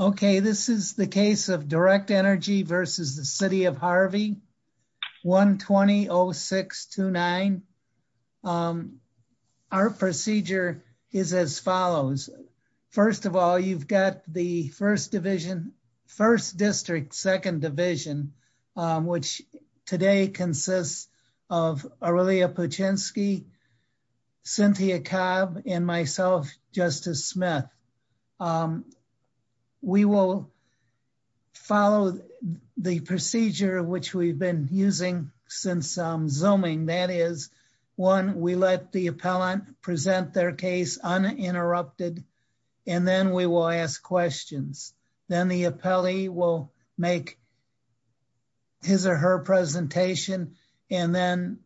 Okay, this is the case of Direct Energy versus the City of Harvey, 1-20-0629. Our procedure is as follows. First of all, you've got the first division, first district, second division, which today consists of Aurelia Puchinski, Cynthia Cobb, and myself, Justice Smith. We will follow the procedure which we've been using since Zooming, that is, one, we let the appellant present their case uninterrupted, and then we will ask questions. Then the appellee will make his or her presentation, and then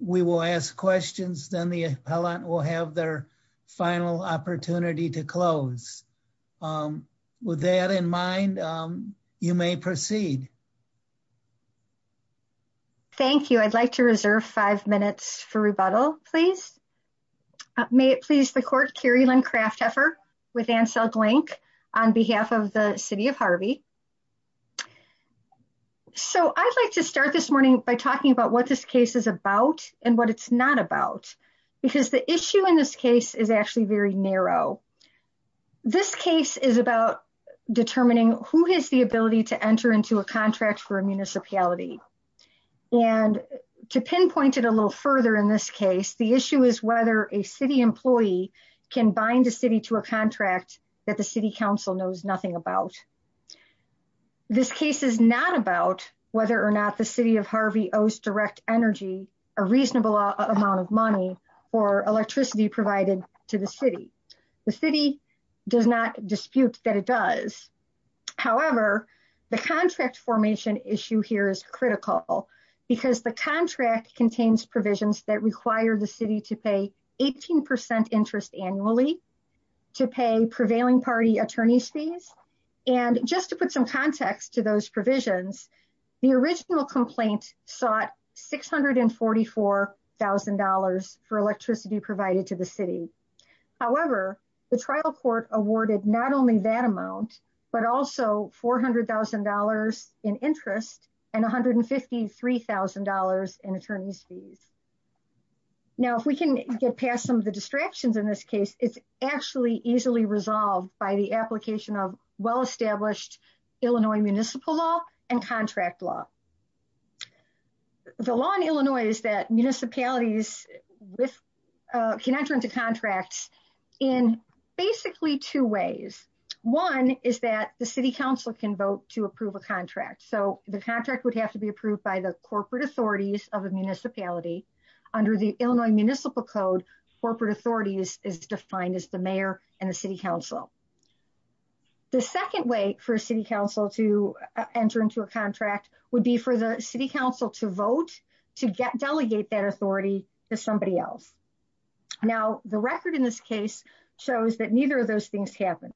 we will ask questions. Then the appellant will have their final opportunity to close. With that in mind, you may proceed. Thank you. I'd like to reserve five minutes for rebuttal, please. May it please the court, Kerri-Lynn Kraftheffer with Ansel Glenk on behalf of the City of Harvey. So, I'd like to start this morning by talking about what this case is about and what it's not about, because the issue in this case is actually very narrow. This case is about determining who has the ability to enter into a contract for a municipality. And to pinpoint it a little further in this case, the issue is whether a city employee can bind a city to a contract that the city council knows nothing about. This case is not about whether or not the City of Harvey owes direct energy a reasonable amount of money or electricity provided to the city. The city does not dispute that it does. However, the contract formation issue here is critical because the contract contains provisions that require the city to pay 18% interest annually to pay prevailing party attorney's fees. And just to put some context to those provisions, the original complaint sought $644,000 for electricity provided to the city. However, the trial court awarded not only that amount, but also $400,000 in interest and $153,000 in attorney's fees. Now, if we can get past some of the distractions in this case, it's actually easily resolved by the application of well-established Illinois municipal law and contract law. The law in Illinois is that municipalities can enter into contracts in basically two ways. One is that the city council can vote to approve a contract. So the contract would have to be approved by the corporate authorities of a municipality. Under the Illinois Municipal Code, corporate authority is defined as the mayor and the city council. The second way for a city council to enter into a contract would be for the city council to vote to delegate that authority to somebody else. Now, the record in this case shows that neither of those things happened.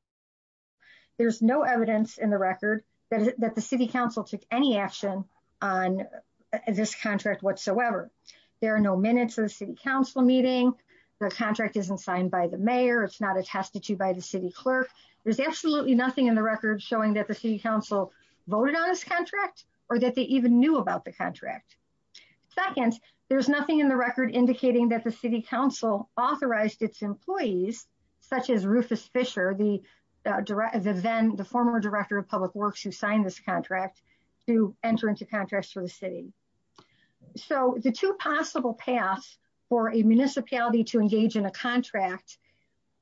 There's no evidence in the record that the city council took any action on this contract whatsoever. There are no minutes of the city council meeting. The contract isn't signed by the mayor. It's not attested to by the city clerk. There's absolutely nothing in the record showing that the city council voted on this contract or that they even knew about the contract. Second, there's nothing in the record indicating that the city council authorized its employees, such as Rufus Fisher, the former director of public works who signed this contract, to enter into contracts for the city. So, the two possible paths for a municipality to engage in a contract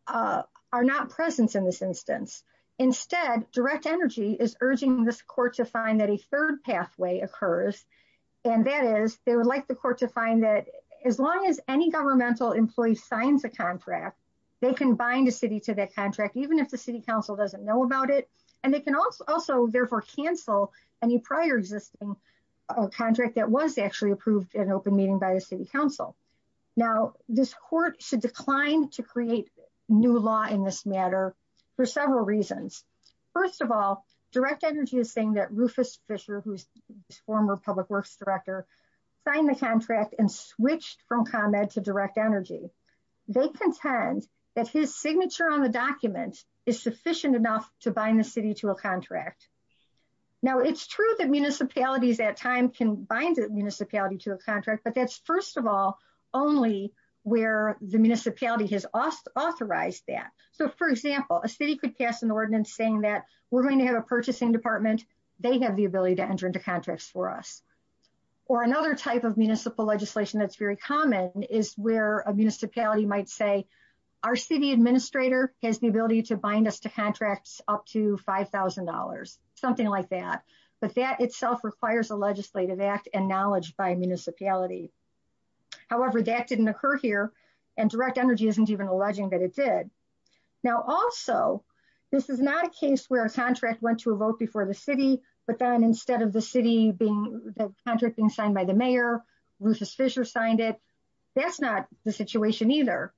are not present in this instance. Instead, Direct Energy is urging this court to find that a third pathway occurs, and that is they would like the court to find that as long as any governmental employee signs a contract, they can bind a city to that contract, even if the city council doesn't know about it, and they can also therefore cancel any prior existing contract that was actually approved at an open meeting by the city council. Now, this court should decline to create new law in this matter for several reasons. First of all, Direct Energy is saying that Rufus Fisher, who is the former public works director, signed the contract and switched from ComEd to Direct Energy. They contend that his signature on the document is sufficient enough to bind the city to a contract. Now, it's true that municipalities at times can bind a municipality to a contract, but that's first of all only where the municipality has authorized that. So, for example, a city could pass an ordinance saying that we're going to have a purchasing department, they have the ability to enter into contracts for us. Or another type of municipal legislation that's very common is where a municipality might say, our city administrator has the ability to bind us to contracts up to $5,000, something like that, but that itself requires a legislative act and knowledge by a municipality. However, that didn't occur here, and Direct Energy isn't even alleging that it did. Now also, this is not a case where a contract went to a vote before the city, but then instead of the city being, the contract being signed by the mayor, Rufus Fisher signed it, that's not the situation either.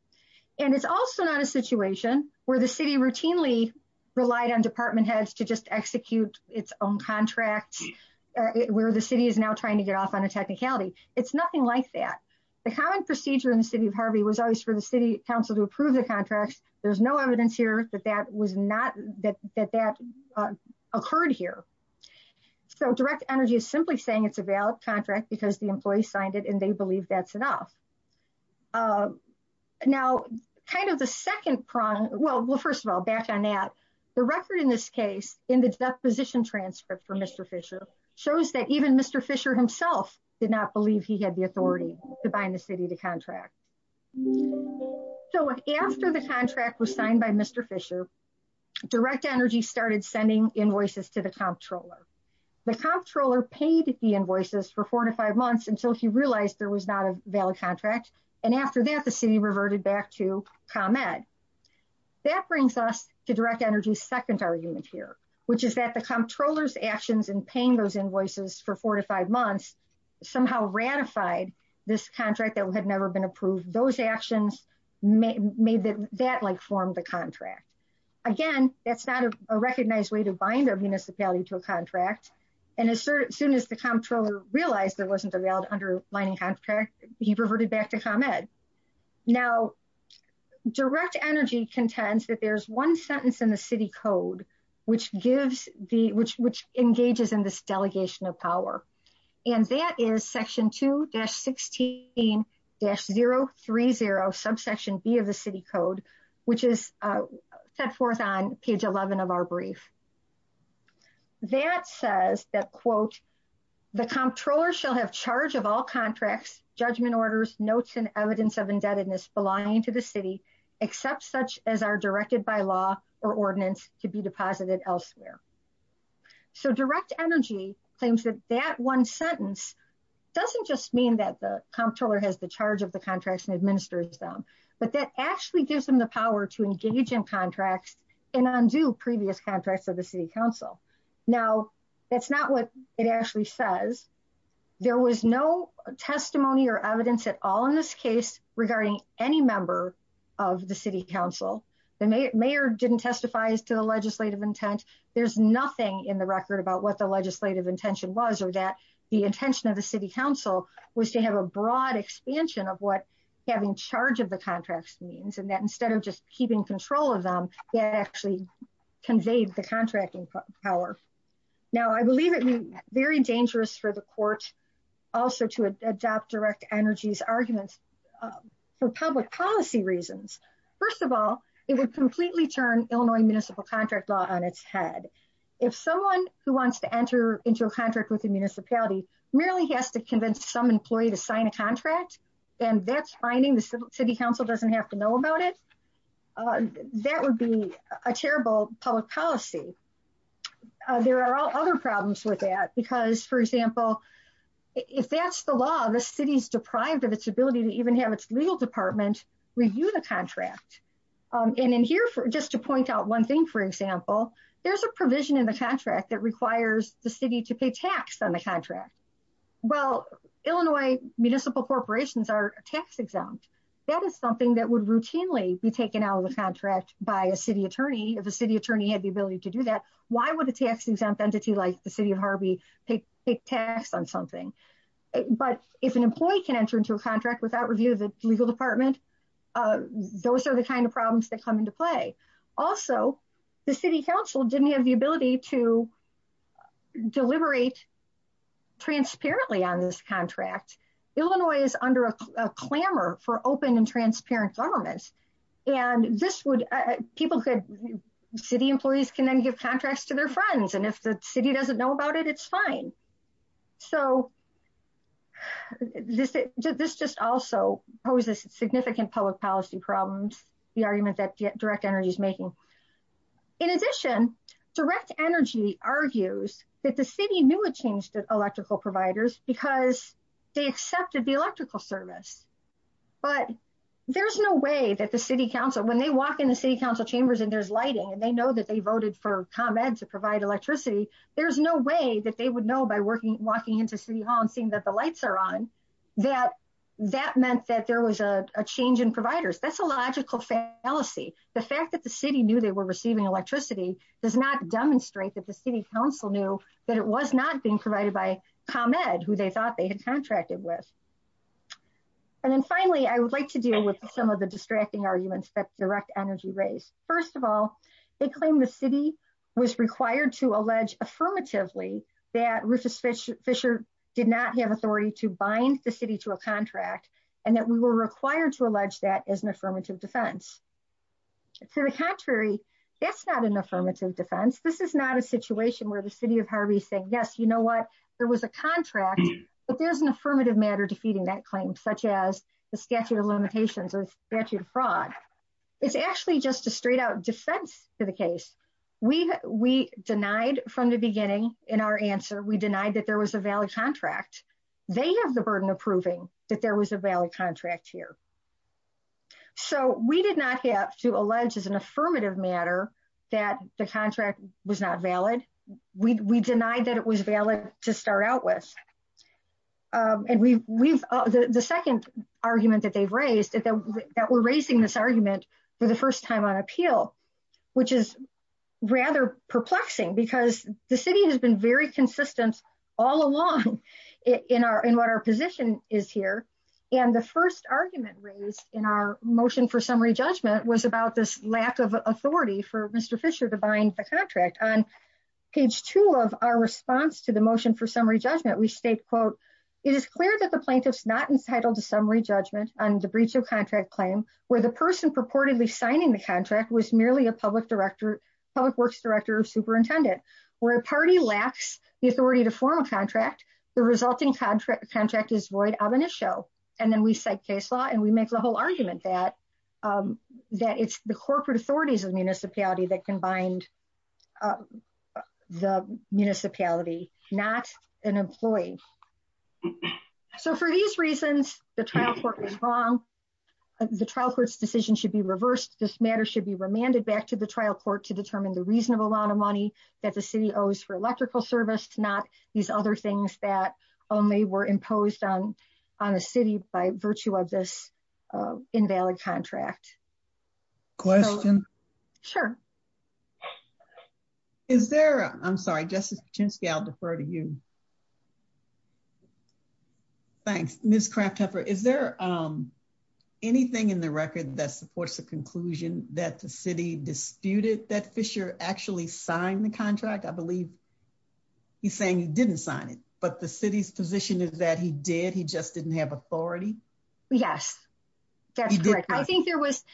And it's also not a situation where the city routinely relied on department heads to just execute its own contract, where the city is now trying to get off on a technicality. It's nothing like that. The common procedure in the city of Harvey was always for the city council to approve the contracts. There's no evidence here that that was not, that that occurred here. So Direct Energy is simply saying it's a valid contract because the employee signed it and they believe that's enough. Now, kind of the second prong, well, first of all, back on that, the record in this case in the deposition transcript for Mr. Fisher shows that even Mr. Fisher himself did not believe he had the authority to bind the city to contracts. So after the contract was signed by Mr. Fisher, Direct Energy started sending invoices to the comptroller. The comptroller paid the invoices for four to five months until he realized there was not a valid contract. And after that, the city reverted back to ComEd. That brings us to Direct Energy's second argument here, which is that the comptroller's actions in paying those invoices for four to five months somehow ratified this contract that had never been approved. Those actions made that form the contract. Again, that's not a recognized way to bind a municipality to a contract. And as soon as the comptroller realized there wasn't a valid underlining contract, he reverted back to ComEd. Now, Direct Energy contends that there's one sentence in the city code which gives the, which engages in this delegation of power. And that is section 2-16-030, subsection B of the city code, which is set forth on page 11 of our brief. That says that, quote, the comptroller shall have charge of all contracts, judgment orders, notes, and evidence of indebtedness belonging to the city, except such as are directed by law or ordinance to be deposited elsewhere. So, Direct Energy claims that that one sentence doesn't just mean that the comptroller has the charge of the contracts and administers them, but that actually gives them the power to engage in contracts and undo previous contracts of the city council. Now, that's not what it actually says. There was no testimony or evidence at all in this case regarding any member of the city council. The mayor didn't testify to the legislative intent. There's nothing in the record about what the legislative intention was or that the intention of the city council was to have a broad expansion of what having charge of the contracts means and that instead of just keeping control of them, that actually conveyed the contracting power. Now, I believe it would be very dangerous for the court also to adopt Direct Energy's arguments for public policy reasons. First of all, it would completely turn Illinois municipal contract law on its head. If someone who wants to enter into a contract with the municipality merely has to convince some employee to sign a contract and that's finding the city council doesn't have to know about it, that would be a terrible public policy. There are other problems with that because, for example, if that's the law, the city's legal department review the contract. And in here, just to point out one thing, for example, there's a provision in the contract that requires the city to pay tax on the contract. Well, Illinois municipal corporations are tax exempt. That is something that would routinely be taken out of the contract by a city attorney. If a city attorney had the ability to do that, why would a tax exempt entity like the city of Harvey pay tax on something? But if an employee can enter into a contract without review of the legal department, those are the kind of problems that come into play. Also, the city council didn't have the ability to deliberate transparently on this contract. Illinois is under a clamor for open and transparent governments. And this would, people could, city employees can then give contracts to their friends. And if the city doesn't know about it, it's fine. So, this just also poses significant public policy problems, the argument that direct energy is making. In addition, direct energy argues that the city knew it changed electrical providers because they accepted the electrical service. But there's no way that the city council, when they walk in the city council chambers and there's lighting and they know that they voted for ComEd to provide electricity, there's no way that they would know by walking into city hall and seeing that the lights are on that that meant that there was a change in providers. That's a logical fallacy. The fact that the city knew they were receiving electricity does not demonstrate that the city council knew that it was not being provided by ComEd, who they thought they had contracted with. And then finally, I would like to deal with some of the distracting arguments that direct energy raised. First of all, they claim the city was required to allege affirmatively that Rufus Fisher did not have authority to bind the city to a contract and that we were required to allege that as an affirmative defense. To the contrary, that's not an affirmative defense. This is not a situation where the city of Harvey is saying, yes, you know what, there was a contract, but there's an affirmative matter defeating that claim, such as the statute of limitations or statute of fraud. It's actually just a straight out defense to the case. We denied from the beginning in our answer, we denied that there was a valid contract. They have the burden of proving that there was a valid contract here. So we did not have to allege as an affirmative matter that the contract was not valid. We denied that it was valid to start out with. And the second argument that they've raised, that we're raising this argument for the first time on appeal, which is rather perplexing because the city has been very consistent all along in what our position is here. And the first argument raised in our motion for summary judgment was about this lack of On page two of our response to the motion for summary judgment, we state, quote, it is clear that the plaintiff's not entitled to summary judgment on the breach of contract claim where the person purportedly signing the contract was merely a public works director or superintendent. Where a party lacks the authority to form a contract, the resulting contract is void of an issue. And then we cite case law and we make the whole argument that it's the corporate authorities of the municipality that can bind the municipality, not an employee. So for these reasons, the trial court was wrong. The trial court's decision should be reversed. This matter should be remanded back to the trial court to determine the reasonable amount of money that the city owes for electrical service, not these other things that only were imposed on the city by virtue of this invalid contract. Question? Sure. Is there, I'm sorry, Justice Patinsky, I'll defer to you. Thanks. Ms. Kraftheffer, is there anything in the record that supports the conclusion that the city disputed that Fisher actually signed the contract? I believe he's saying he didn't sign it, but the city's position is that he did. He just didn't have authority. Yes, that's correct. I think there was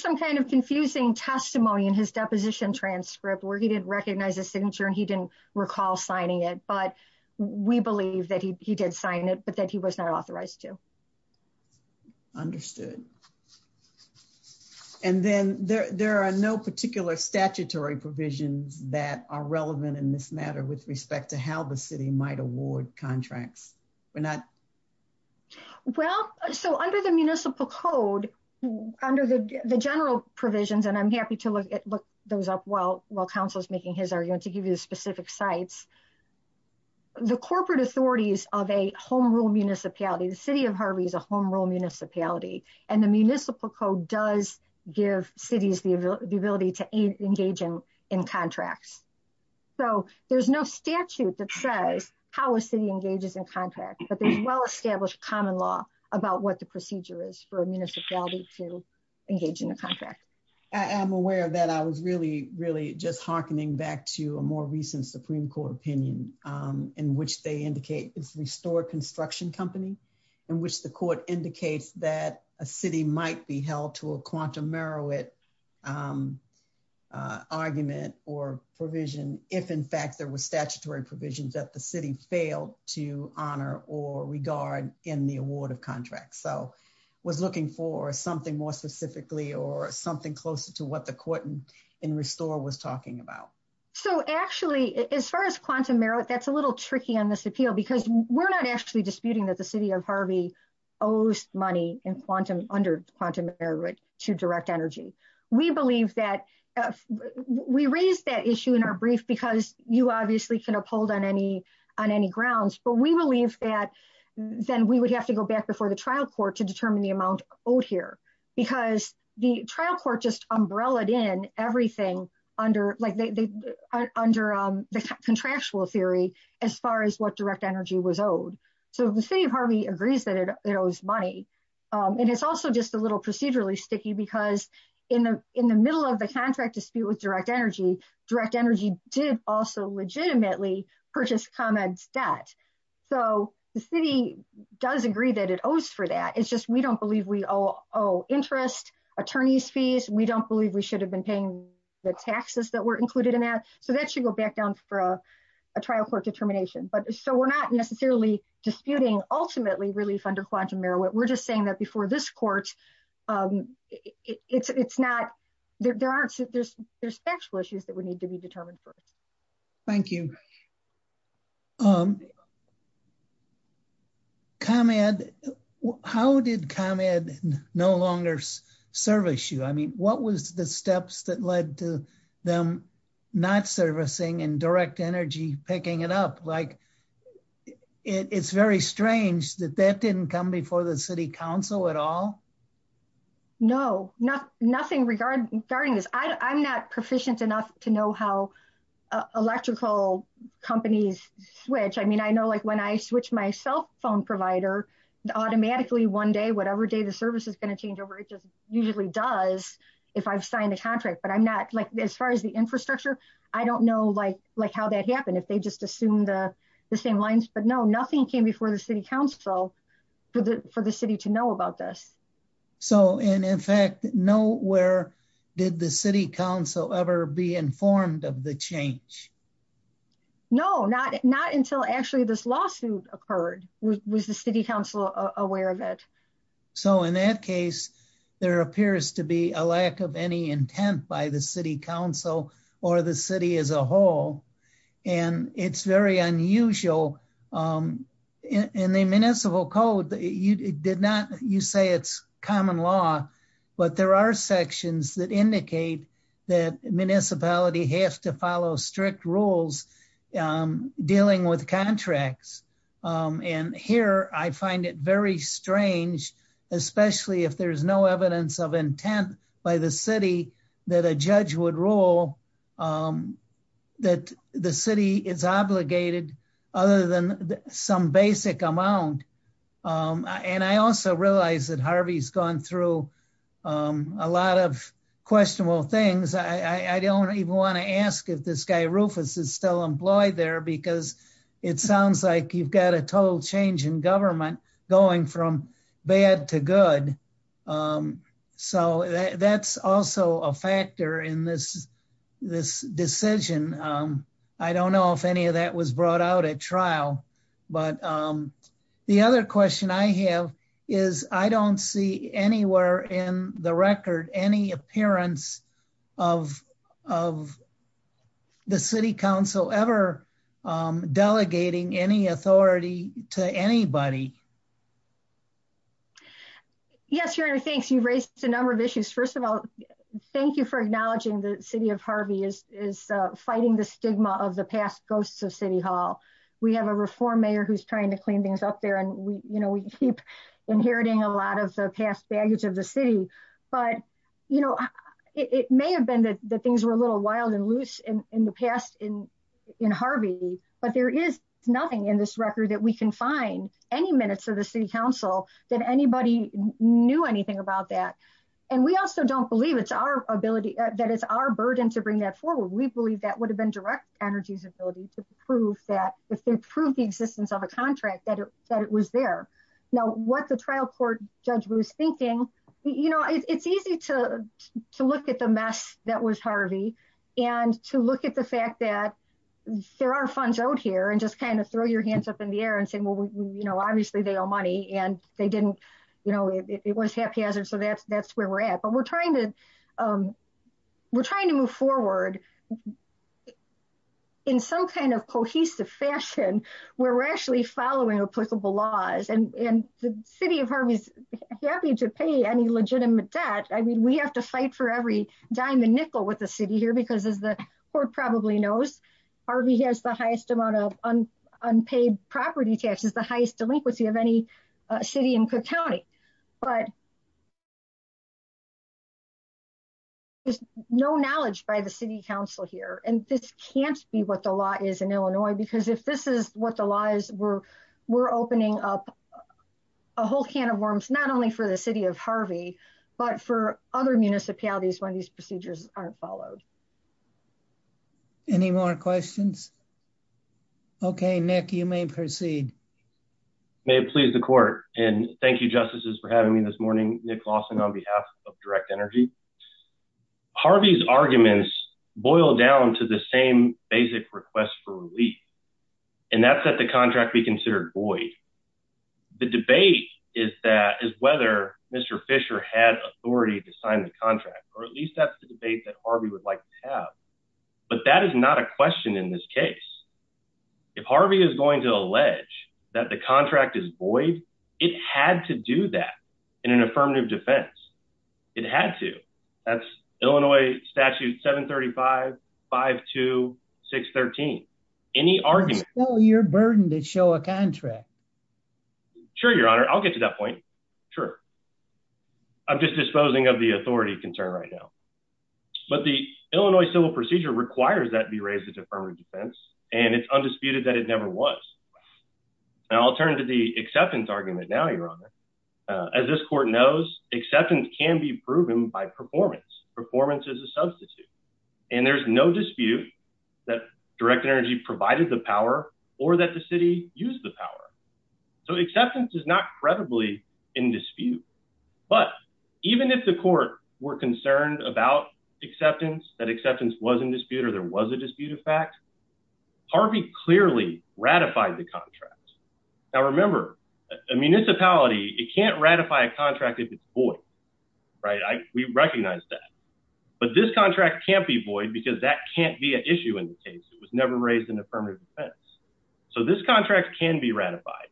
some kind of confusing testimony in his deposition transcript where he didn't recognize the signature and he didn't recall signing it, but we believe that he did sign it, but that he was not authorized to. Understood. And then there are no particular statutory provisions that are relevant in this matter with respect to how the city might award contracts. Well, so under the municipal code, under the general provisions, and I'm happy to look those up while counsel is making his argument to give you the specific sites, the corporate authorities of a home rule municipality, the city of Harvey is a home rule municipality, and the municipal code does give cities the ability to engage in contracts. So there's no statute that says how a city engages in contract, but there's well-established common law about what the procedure is for a municipality to engage in a contract. I am aware of that. I was really, really just hearkening back to a more recent Supreme Court opinion in which they indicate it's restored construction company, in which the court indicates that a city might be held to a quantum merit argument or provision if in fact there was statutory provisions that the city failed to honor or regard in the award of contracts. So I was looking for something more specifically or something closer to what the court in restore was talking about. So actually, as far as quantum merit, that's a little tricky on this appeal because we're not actually disputing that the city of Harvey owes money under quantum merit to direct energy. We believe that we raised that issue in our brief because you obviously can uphold on any grounds, but we believe that then we would have to go back before the trial court to determine the amount owed here because the trial court just umbrellaed in everything under the contractual theory as far as what direct energy was owed. So the city of Harvey agrees that it owes money. And it's also just a little procedurally sticky because in the middle of the contract dispute with direct energy, direct energy did also legitimately purchase ComEd's debt. So the city does agree that it owes for that. It's just we don't believe we owe interest, attorney's fees. We don't believe we should have been paying the taxes that were included in that. So that should go back down for a trial court determination. But so we're not necessarily disputing ultimately relief under quantum merit. We're just saying that before this court, it's not there. There's factual issues that would need to be determined for us. Thank you. ComEd, how did ComEd no longer service you? I mean, what was the steps that led to them not servicing and direct energy picking it up? Like, it's very strange that that didn't come before the city council at all. No, nothing regarding this. I'm not proficient enough to know how electrical companies switch. I mean, I know like when I switch my cell phone provider automatically one day, whatever day the service is going to change over, it just usually does if I've signed a contract. But I'm not like as far as the infrastructure, I don't know like how that happened, if they just assumed the same lines. But no, nothing came before the city council for the city to know about this. So, and in fact, nowhere did the city council ever be informed of the change? No, not until actually this lawsuit occurred. Was the city council aware of it? So in that case, there appears to be a lack of any intent by the city council or the city as a whole. And it's very unusual. In the municipal code, you did not, you say it's common law. But there are sections that indicate that municipality has to follow strict rules dealing with contracts. And here I find it very strange, especially if there's no evidence of intent by the city that a judge would rule that the city is obligated other than some basic amount. And I also realize that Harvey's gone through a lot of questionable things. I don't even want to ask if this guy Rufus is still employed there because it sounds like you've got a total change in government going from bad to good. So that's also a factor in this decision. I don't know if any of that was brought out at trial. But the other question I have is, I don't see anywhere in the record any appearance of the city council ever delegating any authority to anybody. Yes, Your Honor, thanks. You've raised a number of issues. First of all, thank you for acknowledging the city of Harvey is fighting the stigma of the past ghosts of City Hall. We have a reform mayor who's trying to clean things up there and we, you know, we keep inheriting a lot of the past baggage of the city. But, you know, it may have been that the things were a little wild and loose in the past in in Harvey, but there is nothing in this record that we can find any minutes of the city council that anybody knew anything about that. And we also don't believe it's our ability that is our burden to bring that forward. We believe that would have been direct energy's ability to prove that if they prove the existence of a contract that it was there. Now, what the trial court judge was thinking, you know, it's easy to look at the mess that was Harvey and to look at the fact that there are funds out here and just kind of throw your hands up in the air and say, well, you know, obviously they owe money and they didn't, you know, it was haphazard. So that's, that's where we're at. But we're trying to, we're trying to move forward in some kind of cohesive fashion where we're actually following applicable laws and the city of Harvey's happy to pay any legitimate debt. I mean, we have to fight for every dime and nickel with the city here because as the court probably knows, Harvey has the highest amount of unpaid property taxes, the highest delinquency of any city in Cook County, but there's no knowledge by the city council here. And this can't be what the law is in Illinois because if this is what the lies were, we're opening up a whole can of worms, not only for the city of Harvey, but for other municipalities when these procedures aren't followed. Any more questions. Okay, Nick, you may proceed. May it please the court, and thank you justices for having me this morning, Nick Lawson on behalf of direct energy. Harvey's arguments boil down to the same basic request for relief. And that's that the contract be considered void. The debate is that is whether Mr. Fisher had authority to sign the contract, or at least that's the debate that Harvey would like to have. But that is not a question in this case. If Harvey is going to allege that the contract is void. It had to do that in an affirmative defense. It had to. That's Illinois statute 735-52613. Any argument. It's still your burden to show a contract. Sure, Your Honor, I'll get to that point. Sure. I'm just disposing of the authority concern right now. But the Illinois Civil Procedure requires that be raised as affirmative defense, and it's undisputed that it never was. I'll turn to the acceptance argument now, Your Honor. As this court knows, acceptance can be proven by performance. Performance is a substitute. And there's no dispute that direct energy provided the power or that the city used the power. So acceptance is not credibly in dispute. But even if the court were concerned about acceptance, that acceptance was in dispute or there was a dispute of fact, Harvey clearly ratified the contract. Now, remember, a municipality, it can't ratify a contract if it's void. Right. We recognize that. But this contract can't be void because that can't be an issue in the case. It was never raised in affirmative defense. So this contract can be ratified.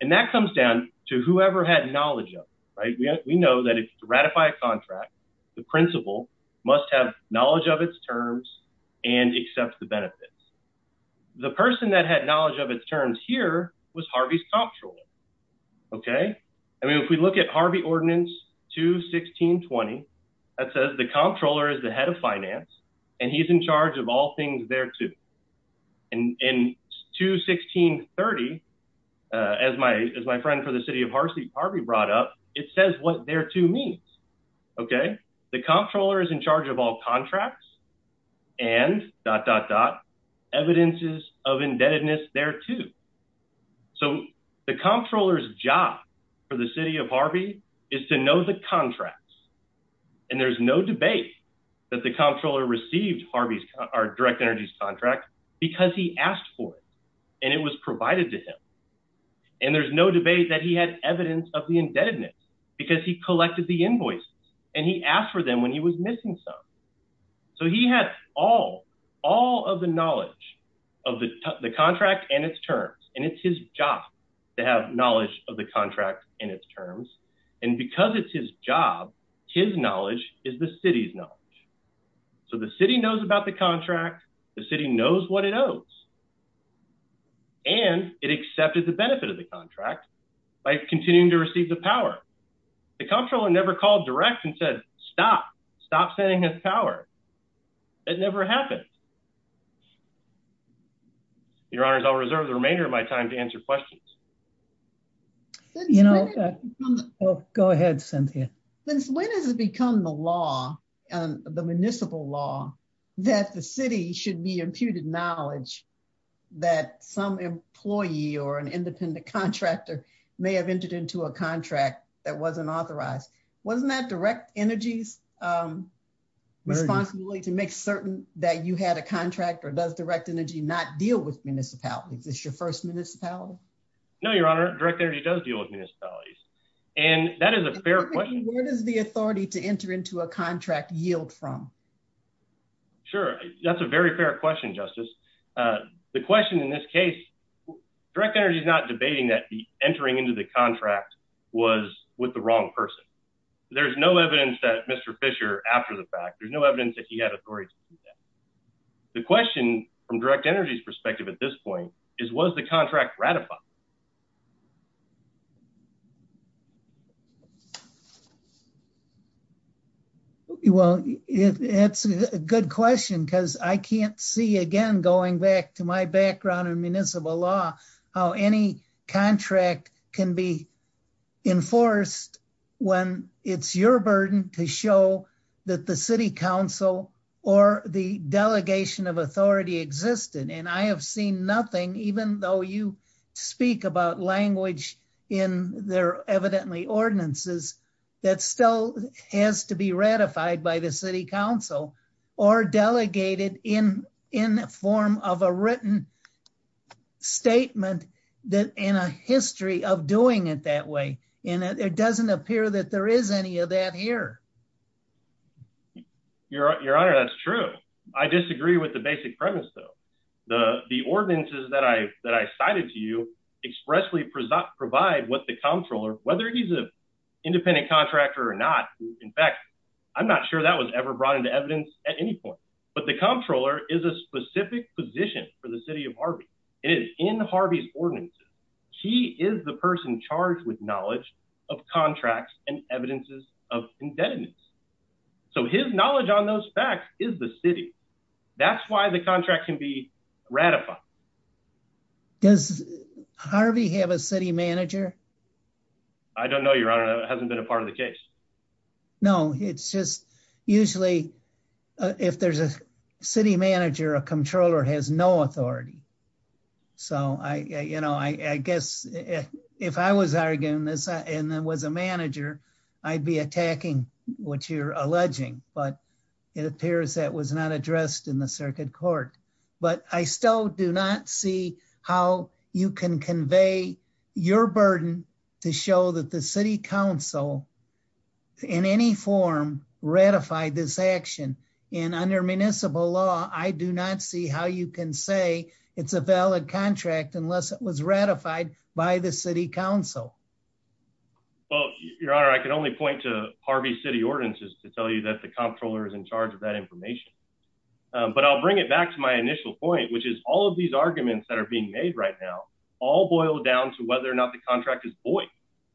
And that comes down to whoever had knowledge of it. Right. We know that if you ratify a contract, the principal must have knowledge of its terms and accept the benefits. The person that had knowledge of its terms here was Harvey's comptroller. OK, I mean, if we look at Harvey Ordinance 21620, that says the comptroller is the head of finance and he's in charge of all things thereto. And in 21630, as my as my friend for the city of Harvey brought up, it says what thereto means. OK, the comptroller is in charge of all contracts and dot dot dot evidences of indebtedness thereto. So the comptroller's job for the city of Harvey is to know the contracts. And there's no debate that the comptroller received Harvey's direct energies contract because he asked for it and it was provided to him. And there's no debate that he had evidence of the indebtedness because he collected the invoices and he asked for them when he was missing some. So he had all all of the knowledge of the contract and its terms. And it's his job to have knowledge of the contract and its terms. And because it's his job, his knowledge is the city's knowledge. So the city knows about the contract. The city knows what it owes. And it accepted the benefit of the contract by continuing to receive the power. The comptroller never called direct and said, stop, stop sending his power. It never happened. Your Honor, I'll reserve the remainder of my time to answer questions. You know, go ahead, Cynthia. Since when has it become the law and the municipal law that the city should be imputed knowledge that some employee or an independent contractor may have entered into a contract that wasn't authorized? Wasn't that direct energy's responsibility to make certain that you had a contract or does direct energy not deal with municipalities? It's your first municipality. No, Your Honor. Direct energy does deal with municipalities. And that is a fair question. Where does the authority to enter into a contract yield from? Sure. That's a very fair question, Justice. The question in this case, direct energy is not debating that entering into the contract was with the wrong person. There is no evidence that Mr. Fisher after the fact, there's no evidence that he had authority. The question from direct energy's perspective at this point is, was the contract ratified? Well, that's a good question because I can't see again, going back to my background in municipal law, how any contract can be enforced when it's your burden to show that the city council or the delegation of authority existed. And I have seen nothing, even though you speak about language in their evidently ordinances, that still has to be ratified by the city council or delegated in form of a written statement in a history of doing it that way. And it doesn't appear that there is any of that here. Your Honor, that's true. I disagree with the basic premise, though. The ordinances that I cited to you expressly provide what the comptroller, whether he's an independent contractor or not. In fact, I'm not sure that was ever brought into evidence at any point. But the comptroller is a specific position for the city of Harvey is in Harvey's ordinances. He is the person charged with knowledge of contracts and evidences of indebtedness. So his knowledge on those facts is the city. That's why the contract can be ratified. Does Harvey have a city manager. I don't know your honor hasn't been a part of the case. No, it's just usually if there's a city manager a comptroller has no authority. So I, you know, I guess if I was arguing this and then was a manager, I'd be attacking what you're alleging, but it appears that was not addressed in the circuit court. But I still do not see how you can convey your burden to show that the city council in any form ratified this action in under municipal law, I do not see how you can say it's a valid contract unless it was ratified by the city council. Well, your honor I can only point to Harvey city ordinances to tell you that the comptroller is in charge of that information. But I'll bring it back to my initial point which is all of these arguments that are being made right now all boil down to whether or not the contract is boy.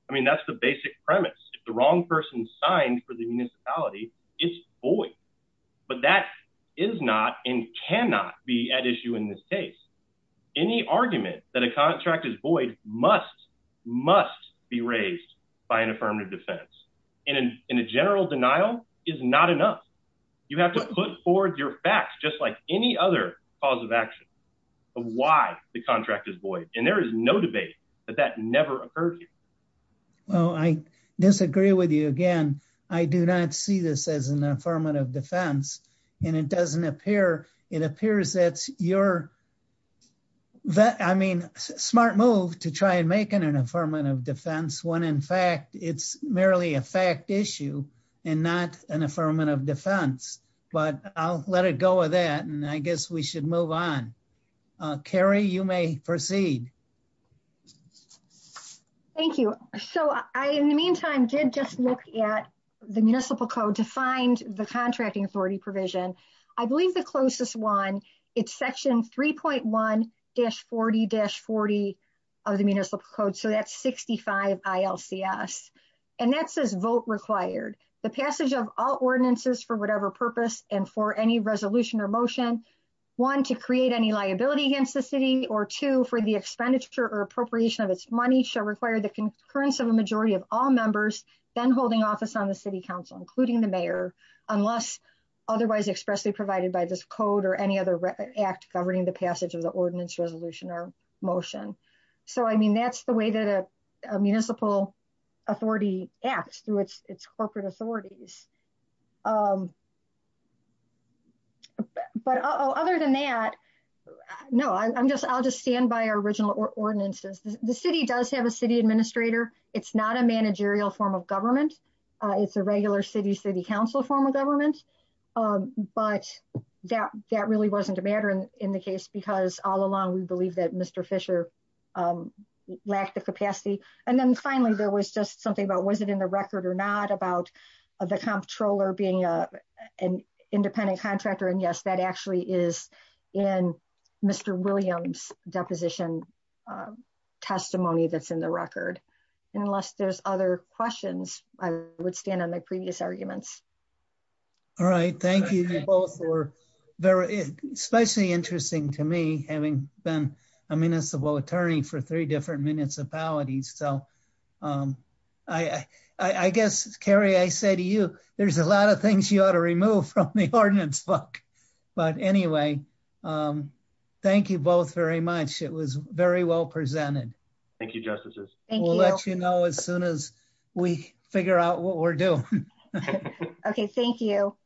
I mean that's the basic premise, the wrong person signed for the municipality is boy. But that is not in cannot be at issue in this case. Any argument that a contract is boy, must, must be raised by an affirmative defense in a general denial is not enough. You have to put forward your facts just like any other cause of action of why the contract is boy, and there is no debate that that never occurred. Well, I disagree with you again. I do not see this as an affirmative defense, and it doesn't appear, it appears that you're that I mean, smart move to try and make an affirmative defense when in fact it's merely a fact issue, and not an affirmative defense, but I'll let it go with that and I guess we should move on. Carrie you may proceed. Thank you. So I in the meantime did just look at the municipal code to find the contracting authority provision. I believe the closest one. It's section 3.1 dash 40 dash 40 of the municipal code so that's 65 ILCS. And that says vote required the passage of all ordinances for whatever purpose, and for any resolution or motion. One to create any liability against the city or two for the expenditure or appropriation of its money shall require the concurrence of a majority of all members, then holding office on the city council including the mayor, unless otherwise expressly provided by this code or any other act governing the passage of the ordinance resolution or motion. So I mean that's the way that a municipal authority acts through its corporate authorities. But other than that. No, I'm just I'll just stand by original ordinances, the city does have a city administrator, it's not a managerial form of government. It's a regular city city council form of government. But that that really wasn't a matter in the case because all along we believe that Mr. Fisher lack the capacity. And then finally there was just something about was it in the record or not about the comptroller being an independent contractor and yes that actually is in Mr. Williams deposition testimony that's in the record. Unless there's other questions, I would stand on the previous arguments. All right, thank you both were very especially interesting to me, having been a municipal attorney for three different municipalities so I, I guess, Carrie I say to you, there's a lot of things you ought to remove from the ordinance book. But anyway, thank you both very much. It was very well presented. Thank you justices. Thank you know as soon as we figure out what we're doing. Okay, thank you.